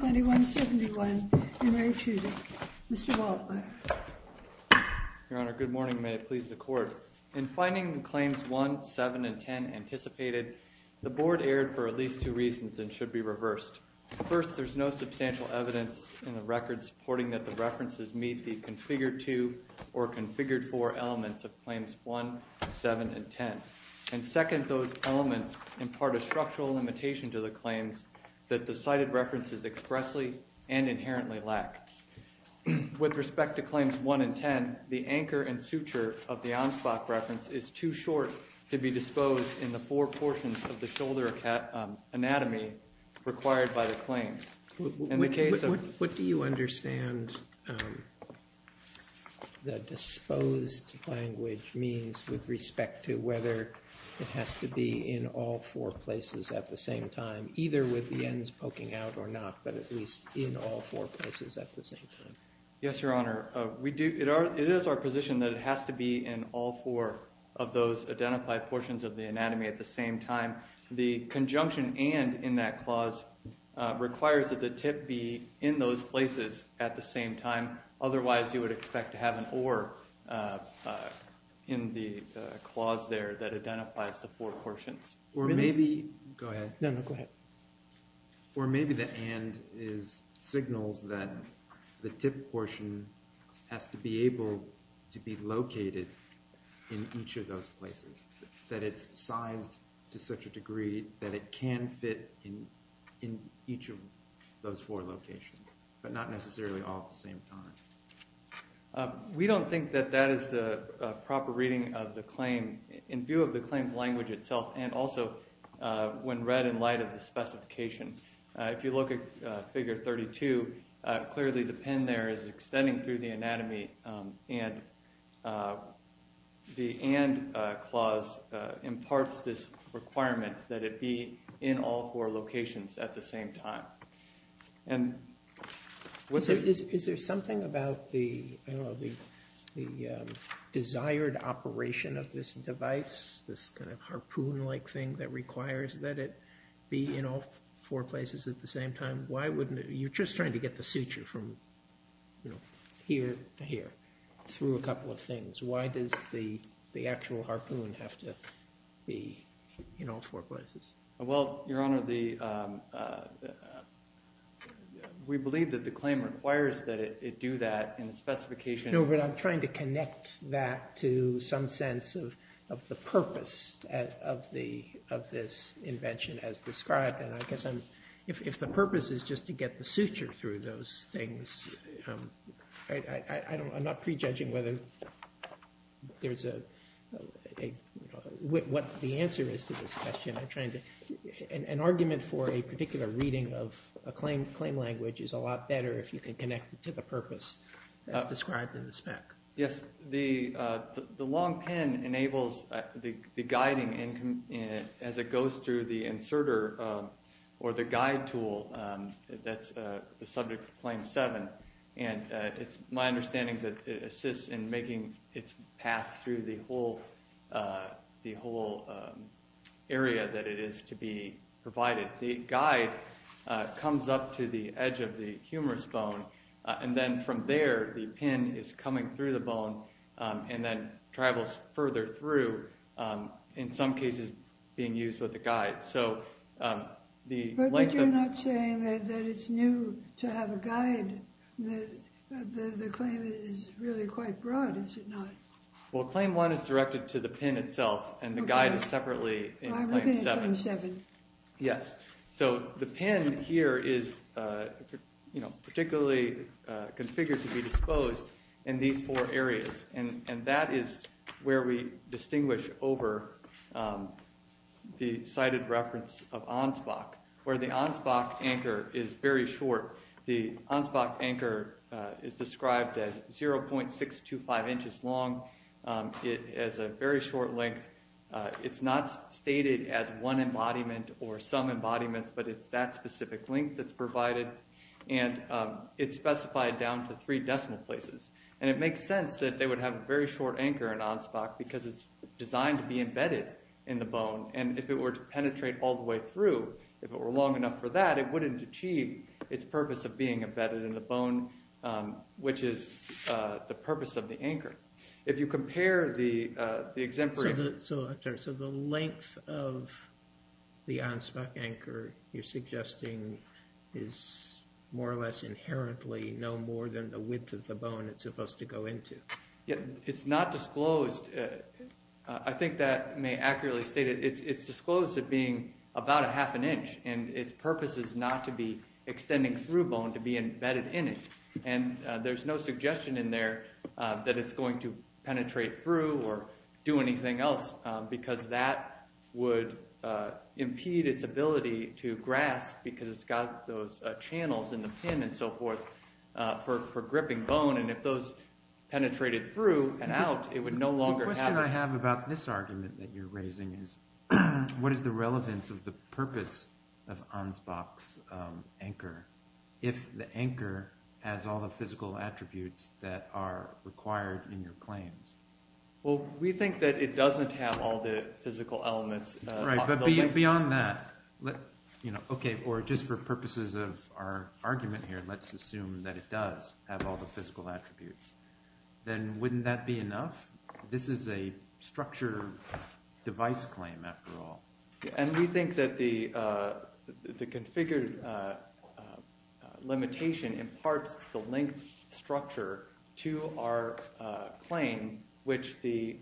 2171 in Re Chudik. Mr. Waldmeier. Your Honor, good morning. May it please the Court. In finding the Claims 1, 7, and 10 anticipated, the Board erred for at least two reasons and should be reversed. First, there is no substantial evidence in the record supporting that the references meet the configured-to or configured-for elements of Claims 1, 7, and 10. And second, those elements impart a structural limitation to the claims that the cited references expressly and inherently lack. With respect to Claims 1 and 10, the anchor and suture of the Ansbach reference is too short to be disposed in the four portions of the shoulder anatomy required by the claims. What do you understand the disposed language means with respect to whether it has to be in all four places at the same time, either with the ends poking out or not, but at least in all four places at the same time? Yes, Your Honor. It is our position that it has to be in all four of those identified portions of the anatomy at the same time. The conjunction and in that clause requires that the tip be in those places at the same time. Otherwise, you would expect to have an or in the clause there that identifies the four portions. Or maybe the and signals that the tip portion has to be able to be located in each of those places, that it's sized to such a degree that it can fit in each of those four locations, but not necessarily all at the same time. We don't think that that is the proper reading of the claim in view of the claim's language itself, and also when read in light of the specification. If you look at Figure 32, clearly the pin there is extending through the anatomy, and the and clause imparts this requirement that it be in all four locations at the same time. Is there something about the desired operation of this device, this kind of harpoon-like thing that requires that it be in all four places at the same time? You're just trying to get the suture from here to here through a couple of things. Why does the actual harpoon have to be in all four places? Well, Your Honor, we believe that the claim requires that it do that in the specification. No, but I'm trying to connect that to some sense of the purpose of this invention as described. And I guess if the purpose is just to get the suture through those things, I'm not prejudging whether there's a – what the answer is to this question. I'm trying to – an argument for a particular reading of a claim language is a lot better if you can connect it to the purpose as described in the spec. Yes, the long pin enables the guiding as it goes through the inserter or the guide tool that's the subject of Claim 7. It's my understanding that it assists in making its path through the whole area that it is to be provided. The guide comes up to the edge of the humerus bone, and then from there the pin is coming through the bone and then travels further through, in some cases being used with a guide. But you're not saying that it's new to have a guide. The claim is really quite broad, is it not? Well, Claim 1 is directed to the pin itself, and the guide is separately in Claim 7. I'm looking at Claim 7. Yes, so the pin here is particularly configured to be disposed in these four areas, and that is where we distinguish over the cited reference of Ansbach, where the Ansbach anchor is very short. The Ansbach anchor is described as 0.625 inches long. It has a very short length. It's not stated as one embodiment or some embodiments, but it's that specific length that's provided, and it's specified down to three decimal places. It makes sense that they would have a very short anchor in Ansbach because it's designed to be embedded in the bone, and if it were to penetrate all the way through, if it were long enough for that, it wouldn't achieve its purpose of being embedded in the bone, which is the purpose of the anchor. If you compare the exemplary... It's not disclosed. I think that may accurately state it. It's disclosed as being about a half an inch, and its purpose is not to be extending through bone, to be embedded in it, and there's no suggestion in there that it's going to penetrate through or do anything else because that would impede its ability to grasp because it's got those channels in the pin and so forth for gripping bone, and if those penetrated through and out, it would no longer have... The question I have about this argument that you're raising is what is the relevance of the purpose of Ansbach's anchor if the anchor has all the physical attributes that are required in your claims? Well, we think that it doesn't have all the physical elements. Right, but beyond that, or just for purposes of our argument here, let's assume that it does have all the physical attributes. Then wouldn't that be enough? This is a structure device claim, after all. And we think that the configured limitation imparts the link structure to our claim, which the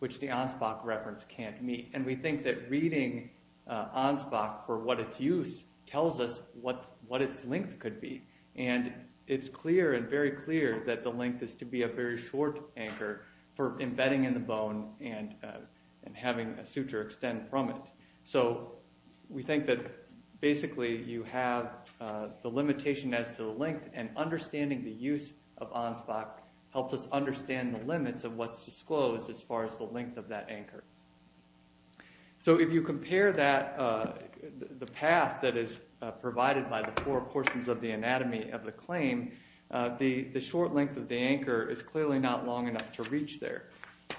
Ansbach reference can't meet, and we think that reading Ansbach for what its use tells us what its length could be, and it's clear and very clear that the length is to be a very short anchor for embedding in the bone and having a suture extend from it. So we think that basically you have the limitation as to the length, and understanding the use of Ansbach helps us understand the limits of what's disclosed as far as the length of that anchor. So if you compare the path that is provided by the four portions of the anatomy of the claim, the short length of the anchor is clearly not long enough to reach there.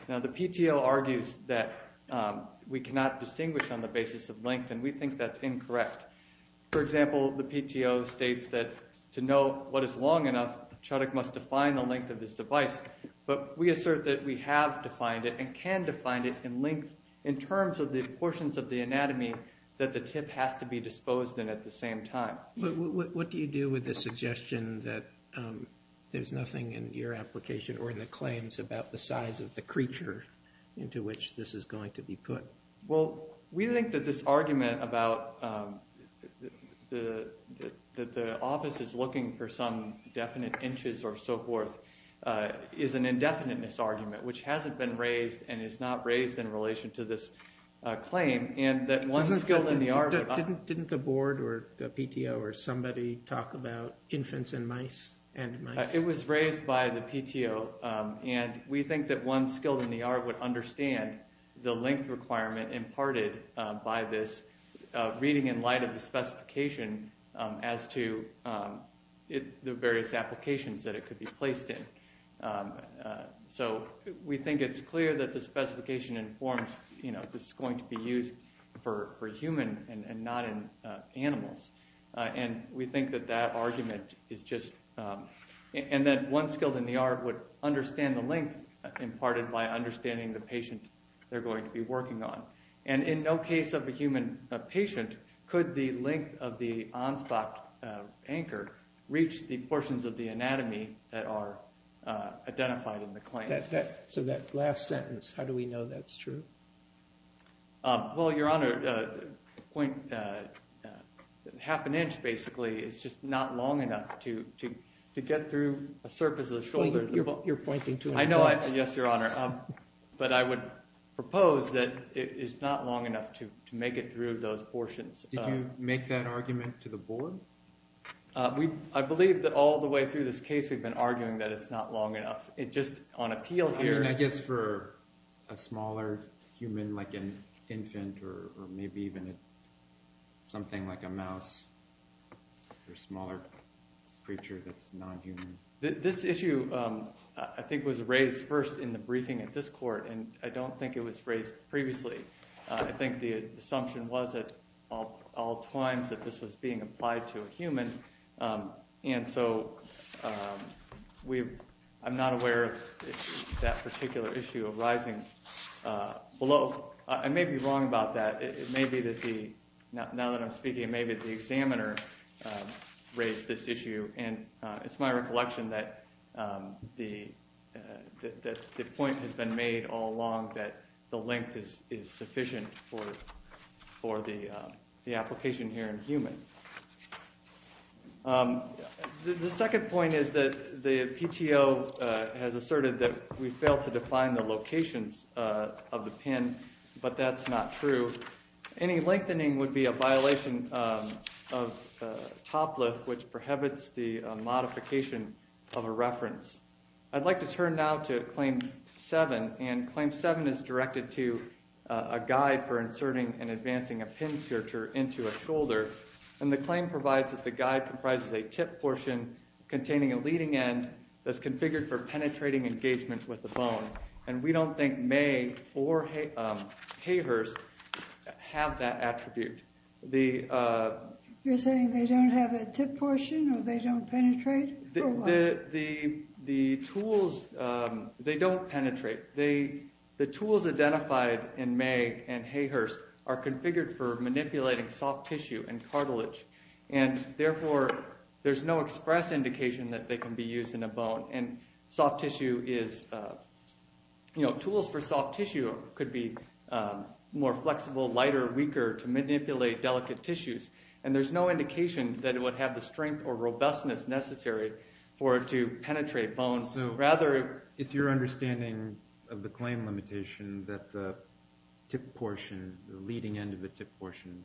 Now, the PTO argues that we cannot distinguish on the basis of length, and we think that's incorrect. For example, the PTO states that to know what is long enough, Chodak must define the length of this device, but we assert that we have defined it and can define it in length in terms of the portions of the anatomy that the tip has to be disposed in at the same time. What do you do with the suggestion that there's nothing in your application or in the claims about the size of the creature into which this is going to be put? Well, we think that this argument that the office is looking for some definite inches or so forth is an indefiniteness argument, which hasn't been raised and is not raised in relation to this claim. Didn't the board or the PTO or somebody talk about infants and mice? It was raised by the PTO, and we think that one skilled in the art would understand the length requirement imparted by this, reading in light of the specification as to the various applications that it could be placed in. So we think it's clear that the specification informs this is going to be used for human and not in animals, and we think that that argument is just – and that one skilled in the art would understand the length imparted by understanding the patient they're going to be working on. And in no case of a human patient could the length of the on-spot anchor reach the portions of the anatomy that are identified in the claim. So that last sentence, how do we know that's true? Well, Your Honor, half an inch basically is just not long enough to get through a surface of the shoulder. You're pointing to an inch. Yes, Your Honor, but I would propose that it's not long enough to make it through those portions. Did you make that argument to the board? I believe that all the way through this case we've been arguing that it's not long enough. I guess for a smaller human like an infant or maybe even something like a mouse or a smaller creature that's non-human. This issue I think was raised first in the briefing at this court, and I don't think it was raised previously. I think the assumption was at all times that this was being applied to a human, and so I'm not aware of that particular issue arising below. I may be wrong about that. It may be that now that I'm speaking it may be the examiner raised this issue, and it's my recollection that the point has been made all along that the length is sufficient for the application here in human. The second point is that the PTO has asserted that we fail to define the locations of the pin, but that's not true. Any lengthening would be a violation of TOPLIFT, which prohibits the modification of a reference. I'd like to turn now to Claim 7, and Claim 7 is directed to a guide for inserting and advancing a pin searcher into a shoulder, and the claim provides that the guide comprises a tip portion containing a leading end that's configured for penetrating engagement with the bone, and we don't think Mae or Hayhurst have that attribute. You're saying they don't have a tip portion, or they don't penetrate, or what? The tools, they don't penetrate. The tools identified in Mae and Hayhurst are configured for manipulating soft tissue and cartilage, and therefore there's no express indication that they can be used in a bone, and soft tissue is, you know, tools for soft tissue could be more flexible, lighter, weaker to manipulate delicate tissues, and there's no indication that it would have the strength or robustness necessary for it to penetrate bones. So rather, it's your understanding of the claim limitation that the tip portion, the leading end of the tip portion,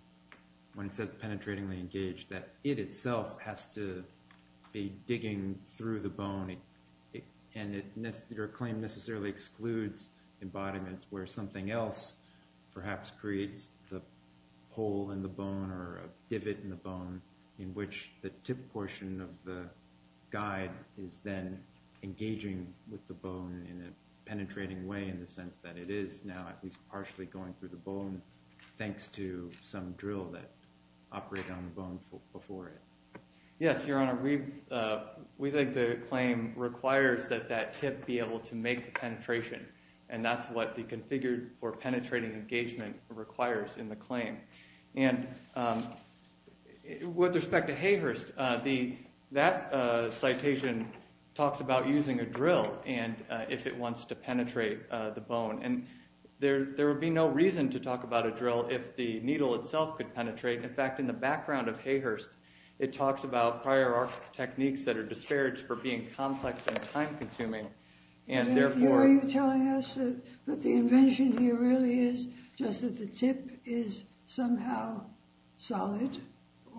when it says penetratingly engaged, that it itself has to be digging through the bone, and your claim necessarily excludes embodiments where something else perhaps creates the hole in the bone or a divot in the bone in which the tip portion of the guide is then engaging with the bone in a penetrating way in the sense that it is now at least partially going through the bone thanks to some drill that operated on the bone before it. Yes, Your Honor, we think the claim requires that that tip be able to make the penetration, and that's what the configured for penetrating engagement requires in the claim. And with respect to Hayhurst, that citation talks about using a drill if it wants to penetrate the bone, and there would be no reason to talk about a drill if the needle itself could penetrate. In fact, in the background of Hayhurst, it talks about prior art techniques that are disparaged for being complex and time-consuming, Are you telling us that the invention here really is just that the tip is somehow solid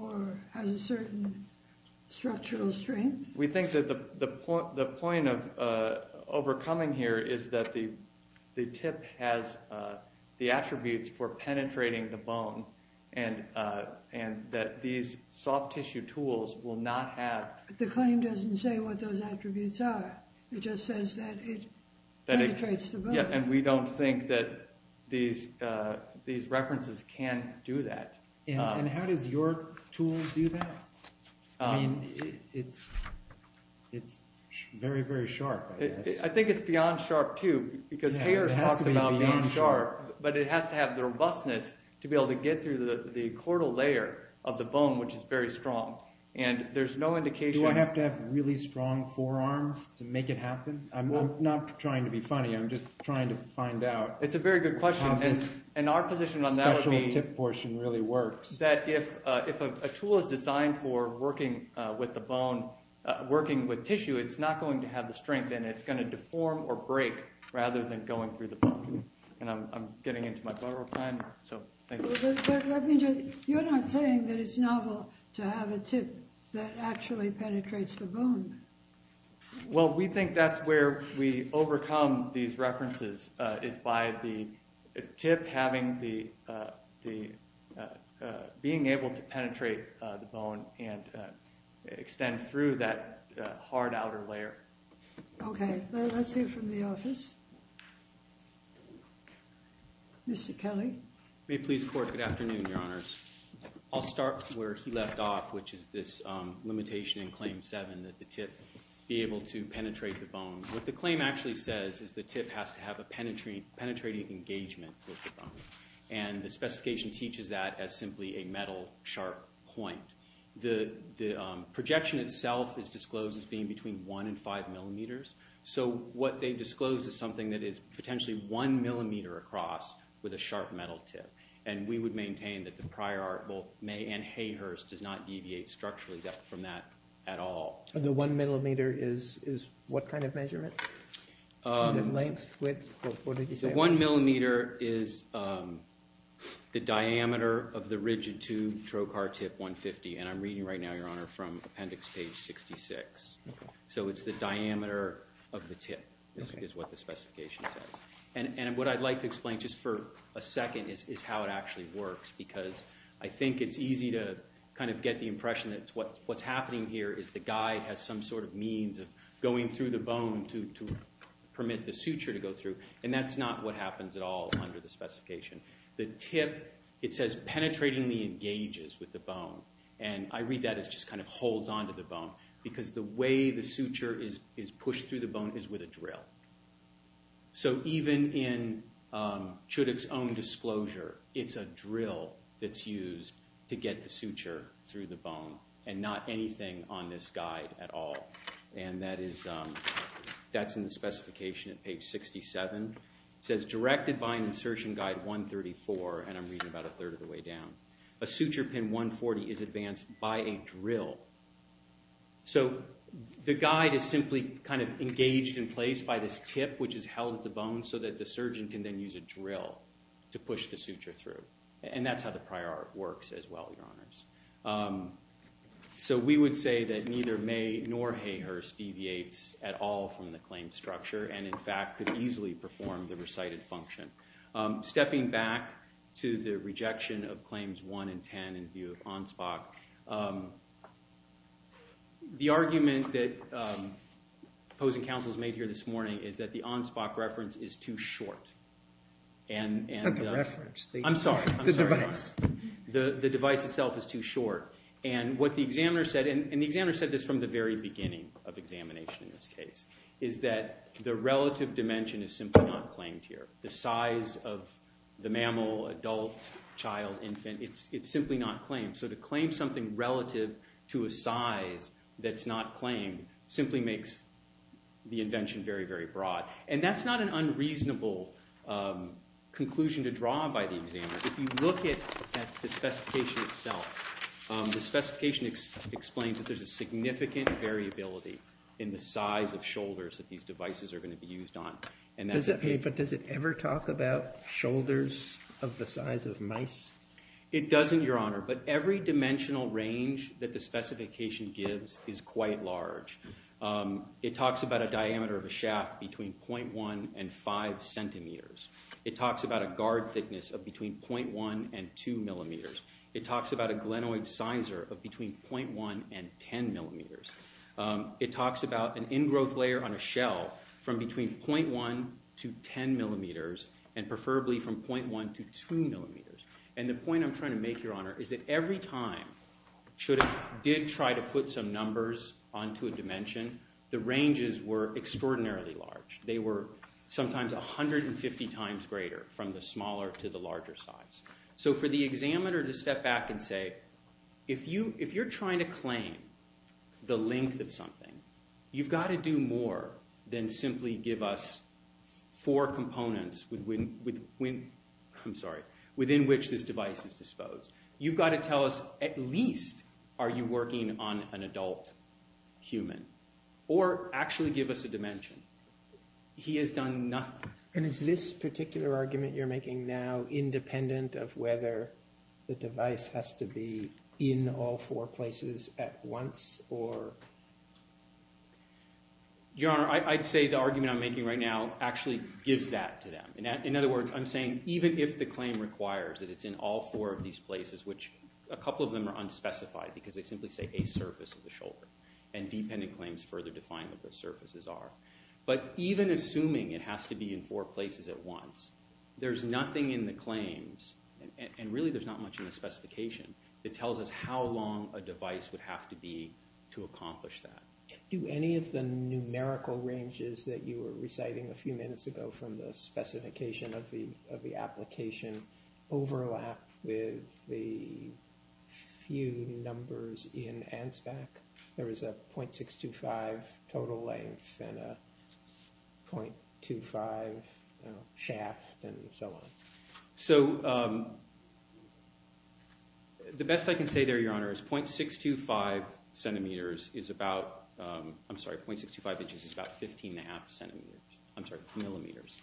or has a certain structural strength? We think that the point of overcoming here is that the tip has the attributes for penetrating the bone, and that these soft-tissue tools will not have... The claim doesn't say what those attributes are. It just says that it penetrates the bone. And we don't think that these references can do that. And how does your tool do that? I mean, it's very, very sharp. I think it's beyond sharp, too, because Hayhurst talks about being sharp, but it has to have the robustness to be able to get through the chordal layer of the bone, which is very strong. Do I have to have really strong forearms to make it happen? I'm not trying to be funny. I'm just trying to find out how this special tip portion really works. It's a very good question, and our position on that would be that if a tool is designed for working with tissue, it's not going to have the strength, and it's going to deform or break rather than going through the bone. And I'm getting into my bubble time, so thank you. You're not saying that it's novel to have a tip that actually penetrates the bone. Well, we think that's where we overcome these references, is by the tip being able to penetrate the bone and extend through that hard outer layer. Okay. Let's hear from the office. Mr. Kelly? May it please the Court? Good afternoon, Your Honors. I'll start where he left off, which is this limitation in Claim 7 that the tip be able to penetrate the bone. What the claim actually says is the tip has to have a penetrating engagement with the bone, and the specification teaches that as simply a metal sharp point. The projection itself is disclosed as being between 1 and 5 millimeters, so what they disclose is something that is potentially 1 millimeter across with a sharp metal tip, and we would maintain that the prior art, both May and Hayhurst, does not deviate structurally from that at all. The 1 millimeter is what kind of measurement? Is it length, width? The 1 millimeter is the diameter of the rigid tube trocar tip 150, and I'm reading right now, Your Honor, from Appendix Page 66. Okay. So it's the diameter of the tip is what the specification says. And what I'd like to explain just for a second is how it actually works, because I think it's easy to kind of get the impression that what's happening here is the guide has some sort of means of going through the bone to permit the suture to go through, and that's not what happens at all under the specification. And I read that as just kind of holds onto the bone, because the way the suture is pushed through the bone is with a drill. So even in Chudik's own disclosure, it's a drill that's used to get the suture through the bone and not anything on this guide at all, and that's in the specification at Page 67. It says directed by an insertion guide 134, and I'm reading about a third of the way down. A suture pin 140 is advanced by a drill. So the guide is simply kind of engaged in place by this tip, which is held at the bone, so that the surgeon can then use a drill to push the suture through. And that's how the prior art works as well, Your Honors. So we would say that neither May nor Hayhurst deviates at all from the claimed structure and, in fact, could easily perform the recited function. Stepping back to the rejection of Claims 1 and 10 in view of ONSPOC, the argument that opposing counsels made here this morning is that the ONSPOC reference is too short. Not the reference. I'm sorry. The device. The device itself is too short. And what the examiner said, and the examiner said this from the very beginning of examination in this case, is that the relative dimension is simply not claimed here. The size of the mammal, adult, child, infant, it's simply not claimed. So to claim something relative to a size that's not claimed simply makes the invention very, very broad. And that's not an unreasonable conclusion to draw by the examiner. If you look at the specification itself, the specification explains that there's a significant variability in the size of shoulders that these devices are going to be used on. But does it ever talk about shoulders of the size of mice? It doesn't, Your Honor, but every dimensional range that the specification gives is quite large. It talks about a diameter of a shaft between 0.1 and 5 centimeters. It talks about a guard thickness of between 0.1 and 2 millimeters. It talks about a glenoid sizer of between 0.1 and 10 millimeters. It talks about an ingrowth layer on a shell from between 0.1 to 10 millimeters, and preferably from 0.1 to 2 millimeters. And the point I'm trying to make, Your Honor, is that every time Chuda did try to put some numbers onto a dimension, the ranges were extraordinarily large. They were sometimes 150 times greater from the smaller to the larger size. So for the examiner to step back and say, if you're trying to claim the length of something, you've got to do more than simply give us four components within which this device is disposed. You've got to tell us, at least, are you working on an adult human? Or actually give us a dimension. He has done nothing. And is this particular argument you're making now independent of whether the device has to be in all four places at once? Your Honor, I'd say the argument I'm making right now actually gives that to them. In other words, I'm saying even if the claim requires that it's in all four of these places, which a couple of them are unspecified because they simply say a surface of the shoulder. And dependent claims further define what those surfaces are. But even assuming it has to be in four places at once, there's nothing in the claims, and really there's not much in the specification, that tells us how long a device would have to be to accomplish that. Do any of the numerical ranges that you were reciting a few minutes ago from the specification of the application overlap with the few numbers in ANSBAC? There is a 0.625 total length and a 0.25 shaft and so on. So the best I can say there, Your Honor, is 0.625 centimeters is about, I'm sorry, 0.625 inches is about 15 and a half centimeters, I'm sorry, millimeters.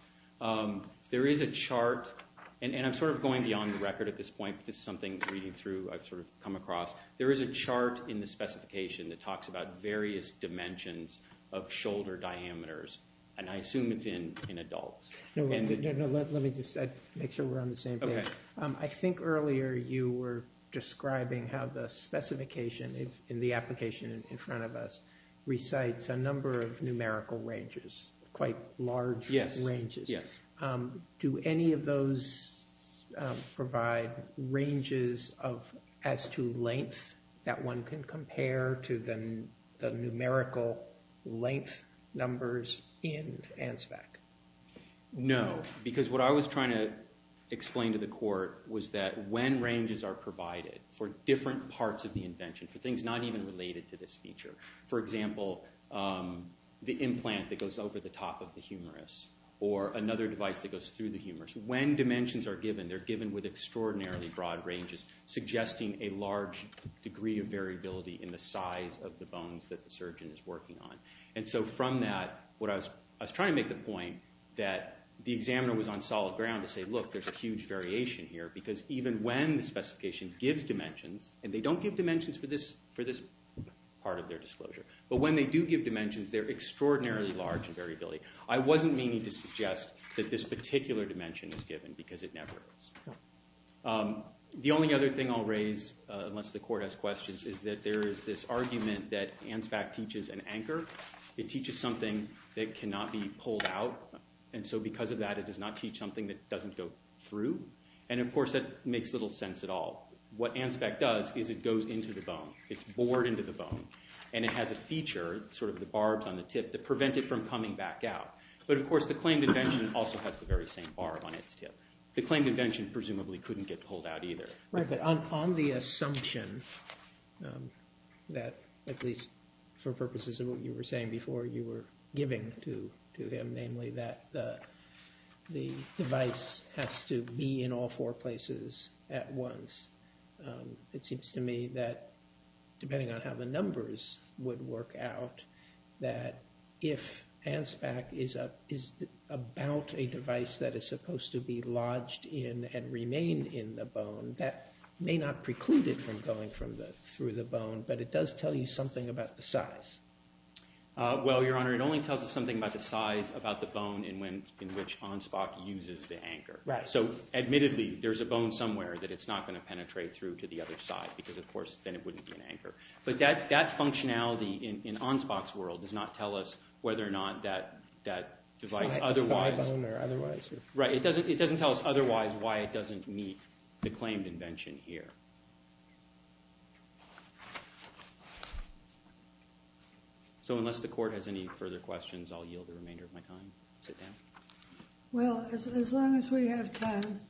There is a chart, and I'm sort of going beyond the record at this point. This is something reading through I've sort of come across. There is a chart in the specification that talks about various dimensions of shoulder diameters, and I assume it's in adults. Let me just make sure we're on the same page. I think earlier you were describing how the specification in the application in front of us recites a number of numerical ranges, quite large ranges. Do any of those provide ranges as to length that one can compare to the numerical length numbers in ANSBAC? No, because what I was trying to explain to the Court was that when ranges are provided for different parts of the invention, for things not even related to this feature, for example, the implant that goes over the top of the humerus or another device that goes through the humerus, when dimensions are given, they're given with extraordinarily broad ranges, suggesting a large degree of variability in the size of the bones that the surgeon is working on. And so from that, I was trying to make the point that the examiner was on solid ground to say, look, there's a huge variation here, because even when the specification gives dimensions, and they don't give dimensions for this part of their disclosure, but when they do give dimensions, they're extraordinarily large in variability. I wasn't meaning to suggest that this particular dimension is given, because it never is. The only other thing I'll raise, unless the Court has questions, is that there is this argument that ANSBAC teaches an anchor. It teaches something that cannot be pulled out. And so because of that, it does not teach something that doesn't go through. And of course, that makes little sense at all. What ANSBAC does is it goes into the bone. It's bored into the bone, and it has a feature, sort of the barbs on the tip, that prevent it from coming back out. But of course, the claimed invention also has the very same barb on its tip. The claimed invention presumably couldn't get pulled out either. Right, but on the assumption that, at least for purposes of what you were saying before you were giving to him, namely that the device has to be in all four places at once, it seems to me that, depending on how the numbers would work out, that if ANSBAC is about a device that is supposed to be lodged in and remain in the bone, that may not preclude it from going through the bone, but it does tell you something about the size. Well, Your Honor, it only tells us something about the size, about the bone in which ANSBAC uses the anchor. Right. So admittedly, there's a bone somewhere that it's not going to penetrate through to the other side, because of course then it wouldn't be an anchor. But that functionality in ANSBAC's world does not tell us whether or not that device otherwise… The side bone or otherwise. Right, it doesn't tell us otherwise why it doesn't meet the claimed invention here. So unless the Court has any further questions, I'll yield the remainder of my time. Sit down. Well, as long as we have time.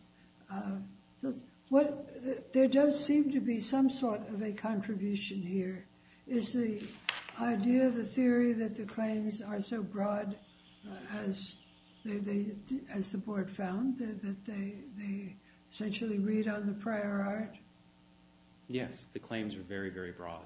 There does seem to be some sort of a contribution here. Is the idea, the theory, that the claims are so broad as the Board found, that they essentially read on the prior art? Yes, the claims are very, very broad.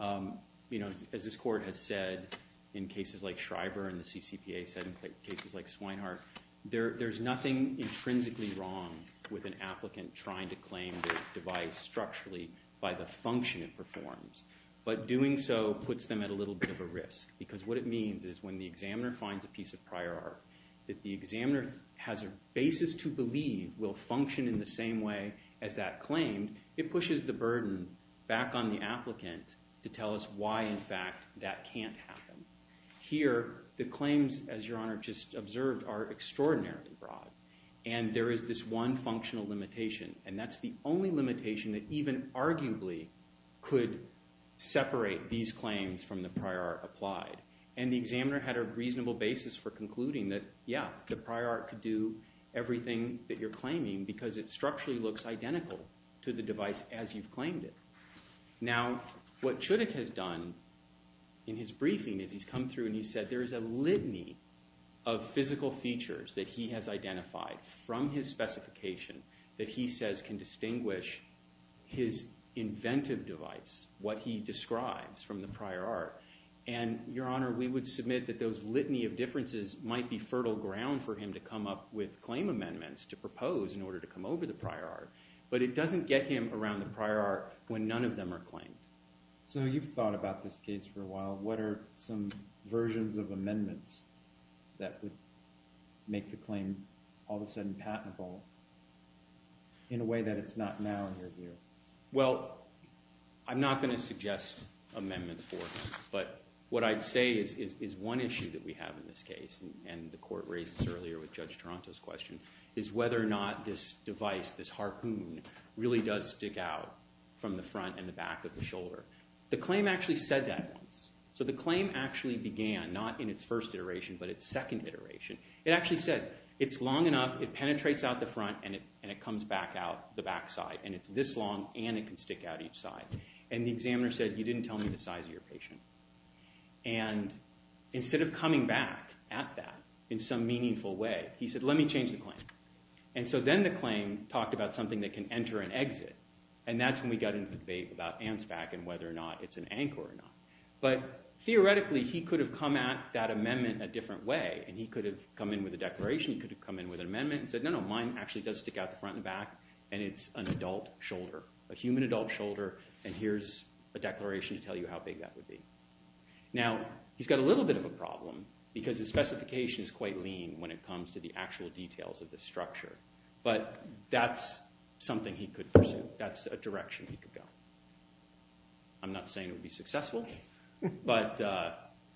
As this Court has said in cases like Schreiber and the CCPA said in cases like Swinehart, there's nothing intrinsically wrong with an applicant trying to claim the device structurally by the function it performs. But doing so puts them at a little bit of a risk, because what it means is when the examiner finds a piece of prior art that the examiner has a basis to believe will function in the same way as that claim, it pushes the burden back on the applicant to tell us why, in fact, that can't happen. Here, the claims, as Your Honor just observed, are extraordinarily broad. And there is this one functional limitation, and that's the only limitation that even arguably could separate these claims from the prior art applied. And the examiner had a reasonable basis for concluding that, yeah, the prior art could do everything that you're claiming, because it structurally looks identical to the device as you've claimed it. Now, what Chudik has done in his briefing is he's come through and he's said there is a litany of physical features that he has identified from his specification that he says can distinguish his inventive device, what he describes from the prior art. And, Your Honor, we would submit that those litany of differences might be fertile ground for him to come up with claim amendments to propose in order to come over the prior art, but it doesn't get him around the prior art when none of them are claimed. So you've thought about this case for a while. What are some versions of amendments that would make the claim all of a sudden patentable in a way that it's not now in your view? Well, I'm not going to suggest amendments for us, but what I'd say is one issue that we have in this case, and the court raised this earlier with Judge Toronto's question, is whether or not this device, this harpoon, really does stick out from the front and the back of the shoulder. The claim actually said that once. So the claim actually began not in its first iteration but its second iteration. It actually said it's long enough, it penetrates out the front, and it comes back out the back side, and it's this long and it can stick out each side. And the examiner said you didn't tell me the size of your patient. And instead of coming back at that in some meaningful way, he said let me change the claim. And so then the claim talked about something that can enter and exit, and that's when we got into the debate about ANSFAC and whether or not it's an anchor or not. But theoretically he could have come at that amendment a different way, and he could have come in with a declaration, he could have come in with an amendment, and said no, no, mine actually does stick out the front and the back, and it's an adult shoulder, a human adult shoulder, and here's a declaration to tell you how big that would be. Now he's got a little bit of a problem because his specification is quite lean when it comes to the actual details of the structure. But that's something he could pursue. That's a direction he could go. I'm not saying it would be successful, but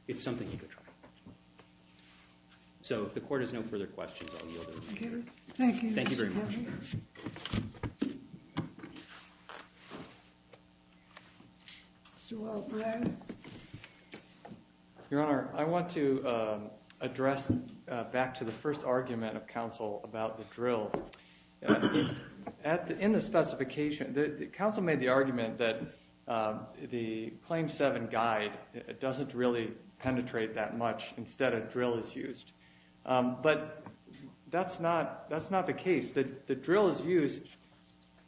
it's something he could try. So if the court has no further questions, I'll yield over to you. Thank you. Thank you very much. Thank you. Mr. Wildbrand? Your Honor, I want to address back to the first argument of counsel about the drill. In the specification, counsel made the argument that the Claim 7 guide doesn't really penetrate that much instead a drill is used. But that's not the case. The drill is used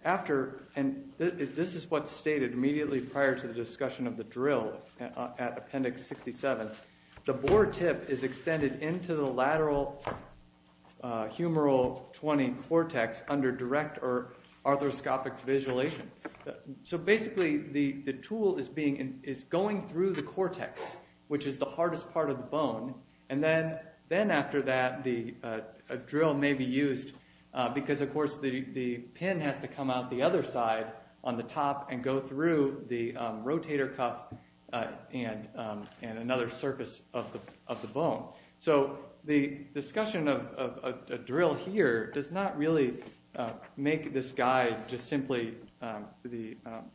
after, and this is what's stated immediately prior to the discussion of the drill at Appendix 67, the boar tip is extended into the lateral humeral 20 cortex under direct or arthroscopic visualization. So basically the tool is going through the cortex, which is the hardest part of the bone, and then after that a drill may be used because, of course, the pin has to come out the other side on the top and go through the rotator cuff and another surface of the bone. So the discussion of a drill here does not really make this guide just simply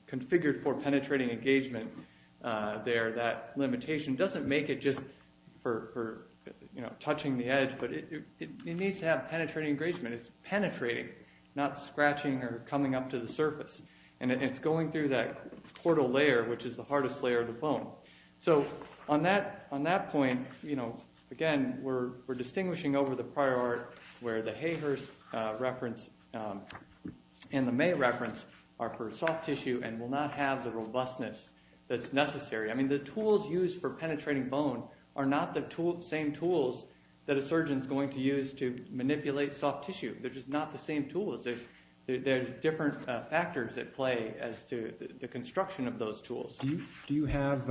configured for penetrating engagement there. That limitation doesn't make it just for touching the edge, but it needs to have penetrating engagement. It's penetrating, not scratching or coming up to the surface. And it's going through that portal layer, which is the hardest layer of the bone. So on that point, again, we're distinguishing over the prior art where the Hayhurst reference and the May reference are for soft tissue and will not have the robustness that's necessary. I mean, the tools used for penetrating bone are not the same tools that a surgeon is going to use to manipulate soft tissue. They're just not the same tools. There are different factors at play as to the construction of those tools. Do you have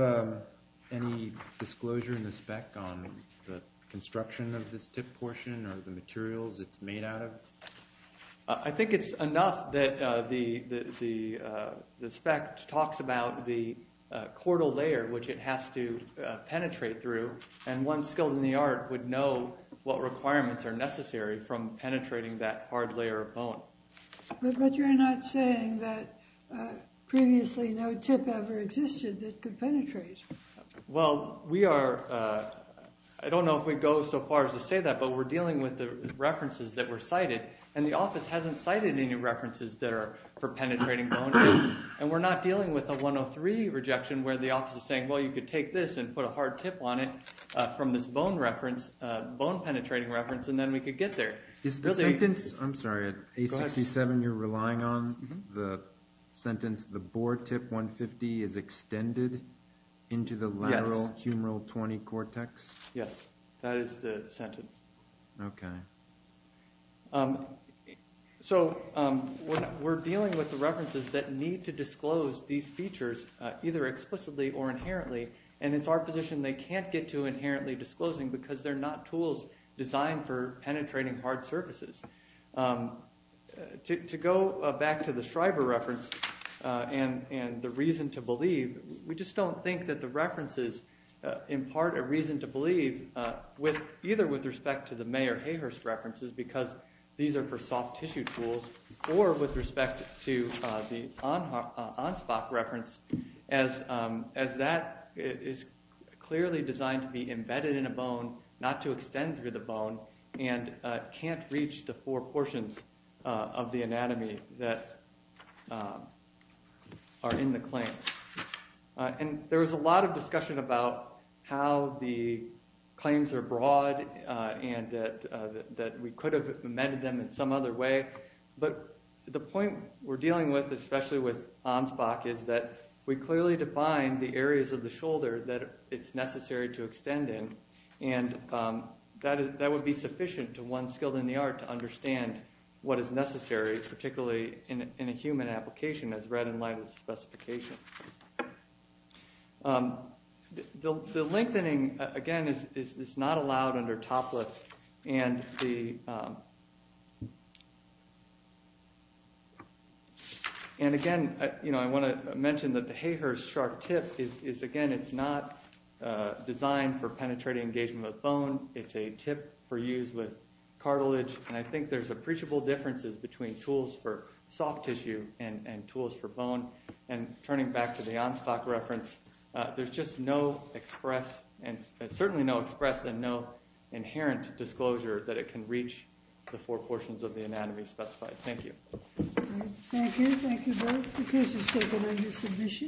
any disclosure in the spec on the construction of this tip portion or the materials it's made out of? I think it's enough that the spec talks about the portal layer, which it has to penetrate through, and one skilled in the art would know what requirements are necessary from penetrating that hard layer of bone. But you're not saying that previously no tip ever existed that could penetrate. Well, I don't know if we'd go so far as to say that, but we're dealing with the references that were cited, and the office hasn't cited any references that are for penetrating bone. And we're not dealing with a 103 rejection where the office is saying, well, you could take this and put a hard tip on it from this bone penetrating reference, and then we could get there. Is the sentence, I'm sorry, at A67 you're relying on the sentence, the boar tip 150 is extended into the lateral humeral 20 cortex? Yes, that is the sentence. Okay. So we're dealing with the references that need to disclose these features either explicitly or inherently, and it's our position they can't get to inherently disclosing because they're not tools designed for penetrating hard surfaces. To go back to the Shriver reference and the reason to believe, we just don't think that the references impart a reason to believe either with respect to the Mayer-Hayhurst references because these are for soft tissue tools or with respect to the Ansbach reference, as that is clearly designed to be embedded in a bone, not to extend through the bone, and can't reach the four portions of the anatomy that are in the claims. And there was a lot of discussion about how the claims are broad and that we could have amended them in some other way, but the point we're dealing with, especially with Ansbach, is that we clearly define the areas of the shoulder that it's necessary to extend in, and that would be sufficient to one skilled in the art to understand what is necessary, particularly in a human application as read in light of the specification. The lengthening, again, is not allowed under TOPLIT, and again, I want to mention that the Hayhurst sharp tip is, again, it's not designed for penetrating engagement with bone, it's a tip for use with cartilage, and I think there's appreciable differences between tools for soft tissue and tools for bone, and turning back to the Ansbach reference, there's just no express, certainly no express and no inherent disclosure that it can reach the four portions of the anatomy specified. Thank you. Thank you. Thank you both. The case is taken under submission.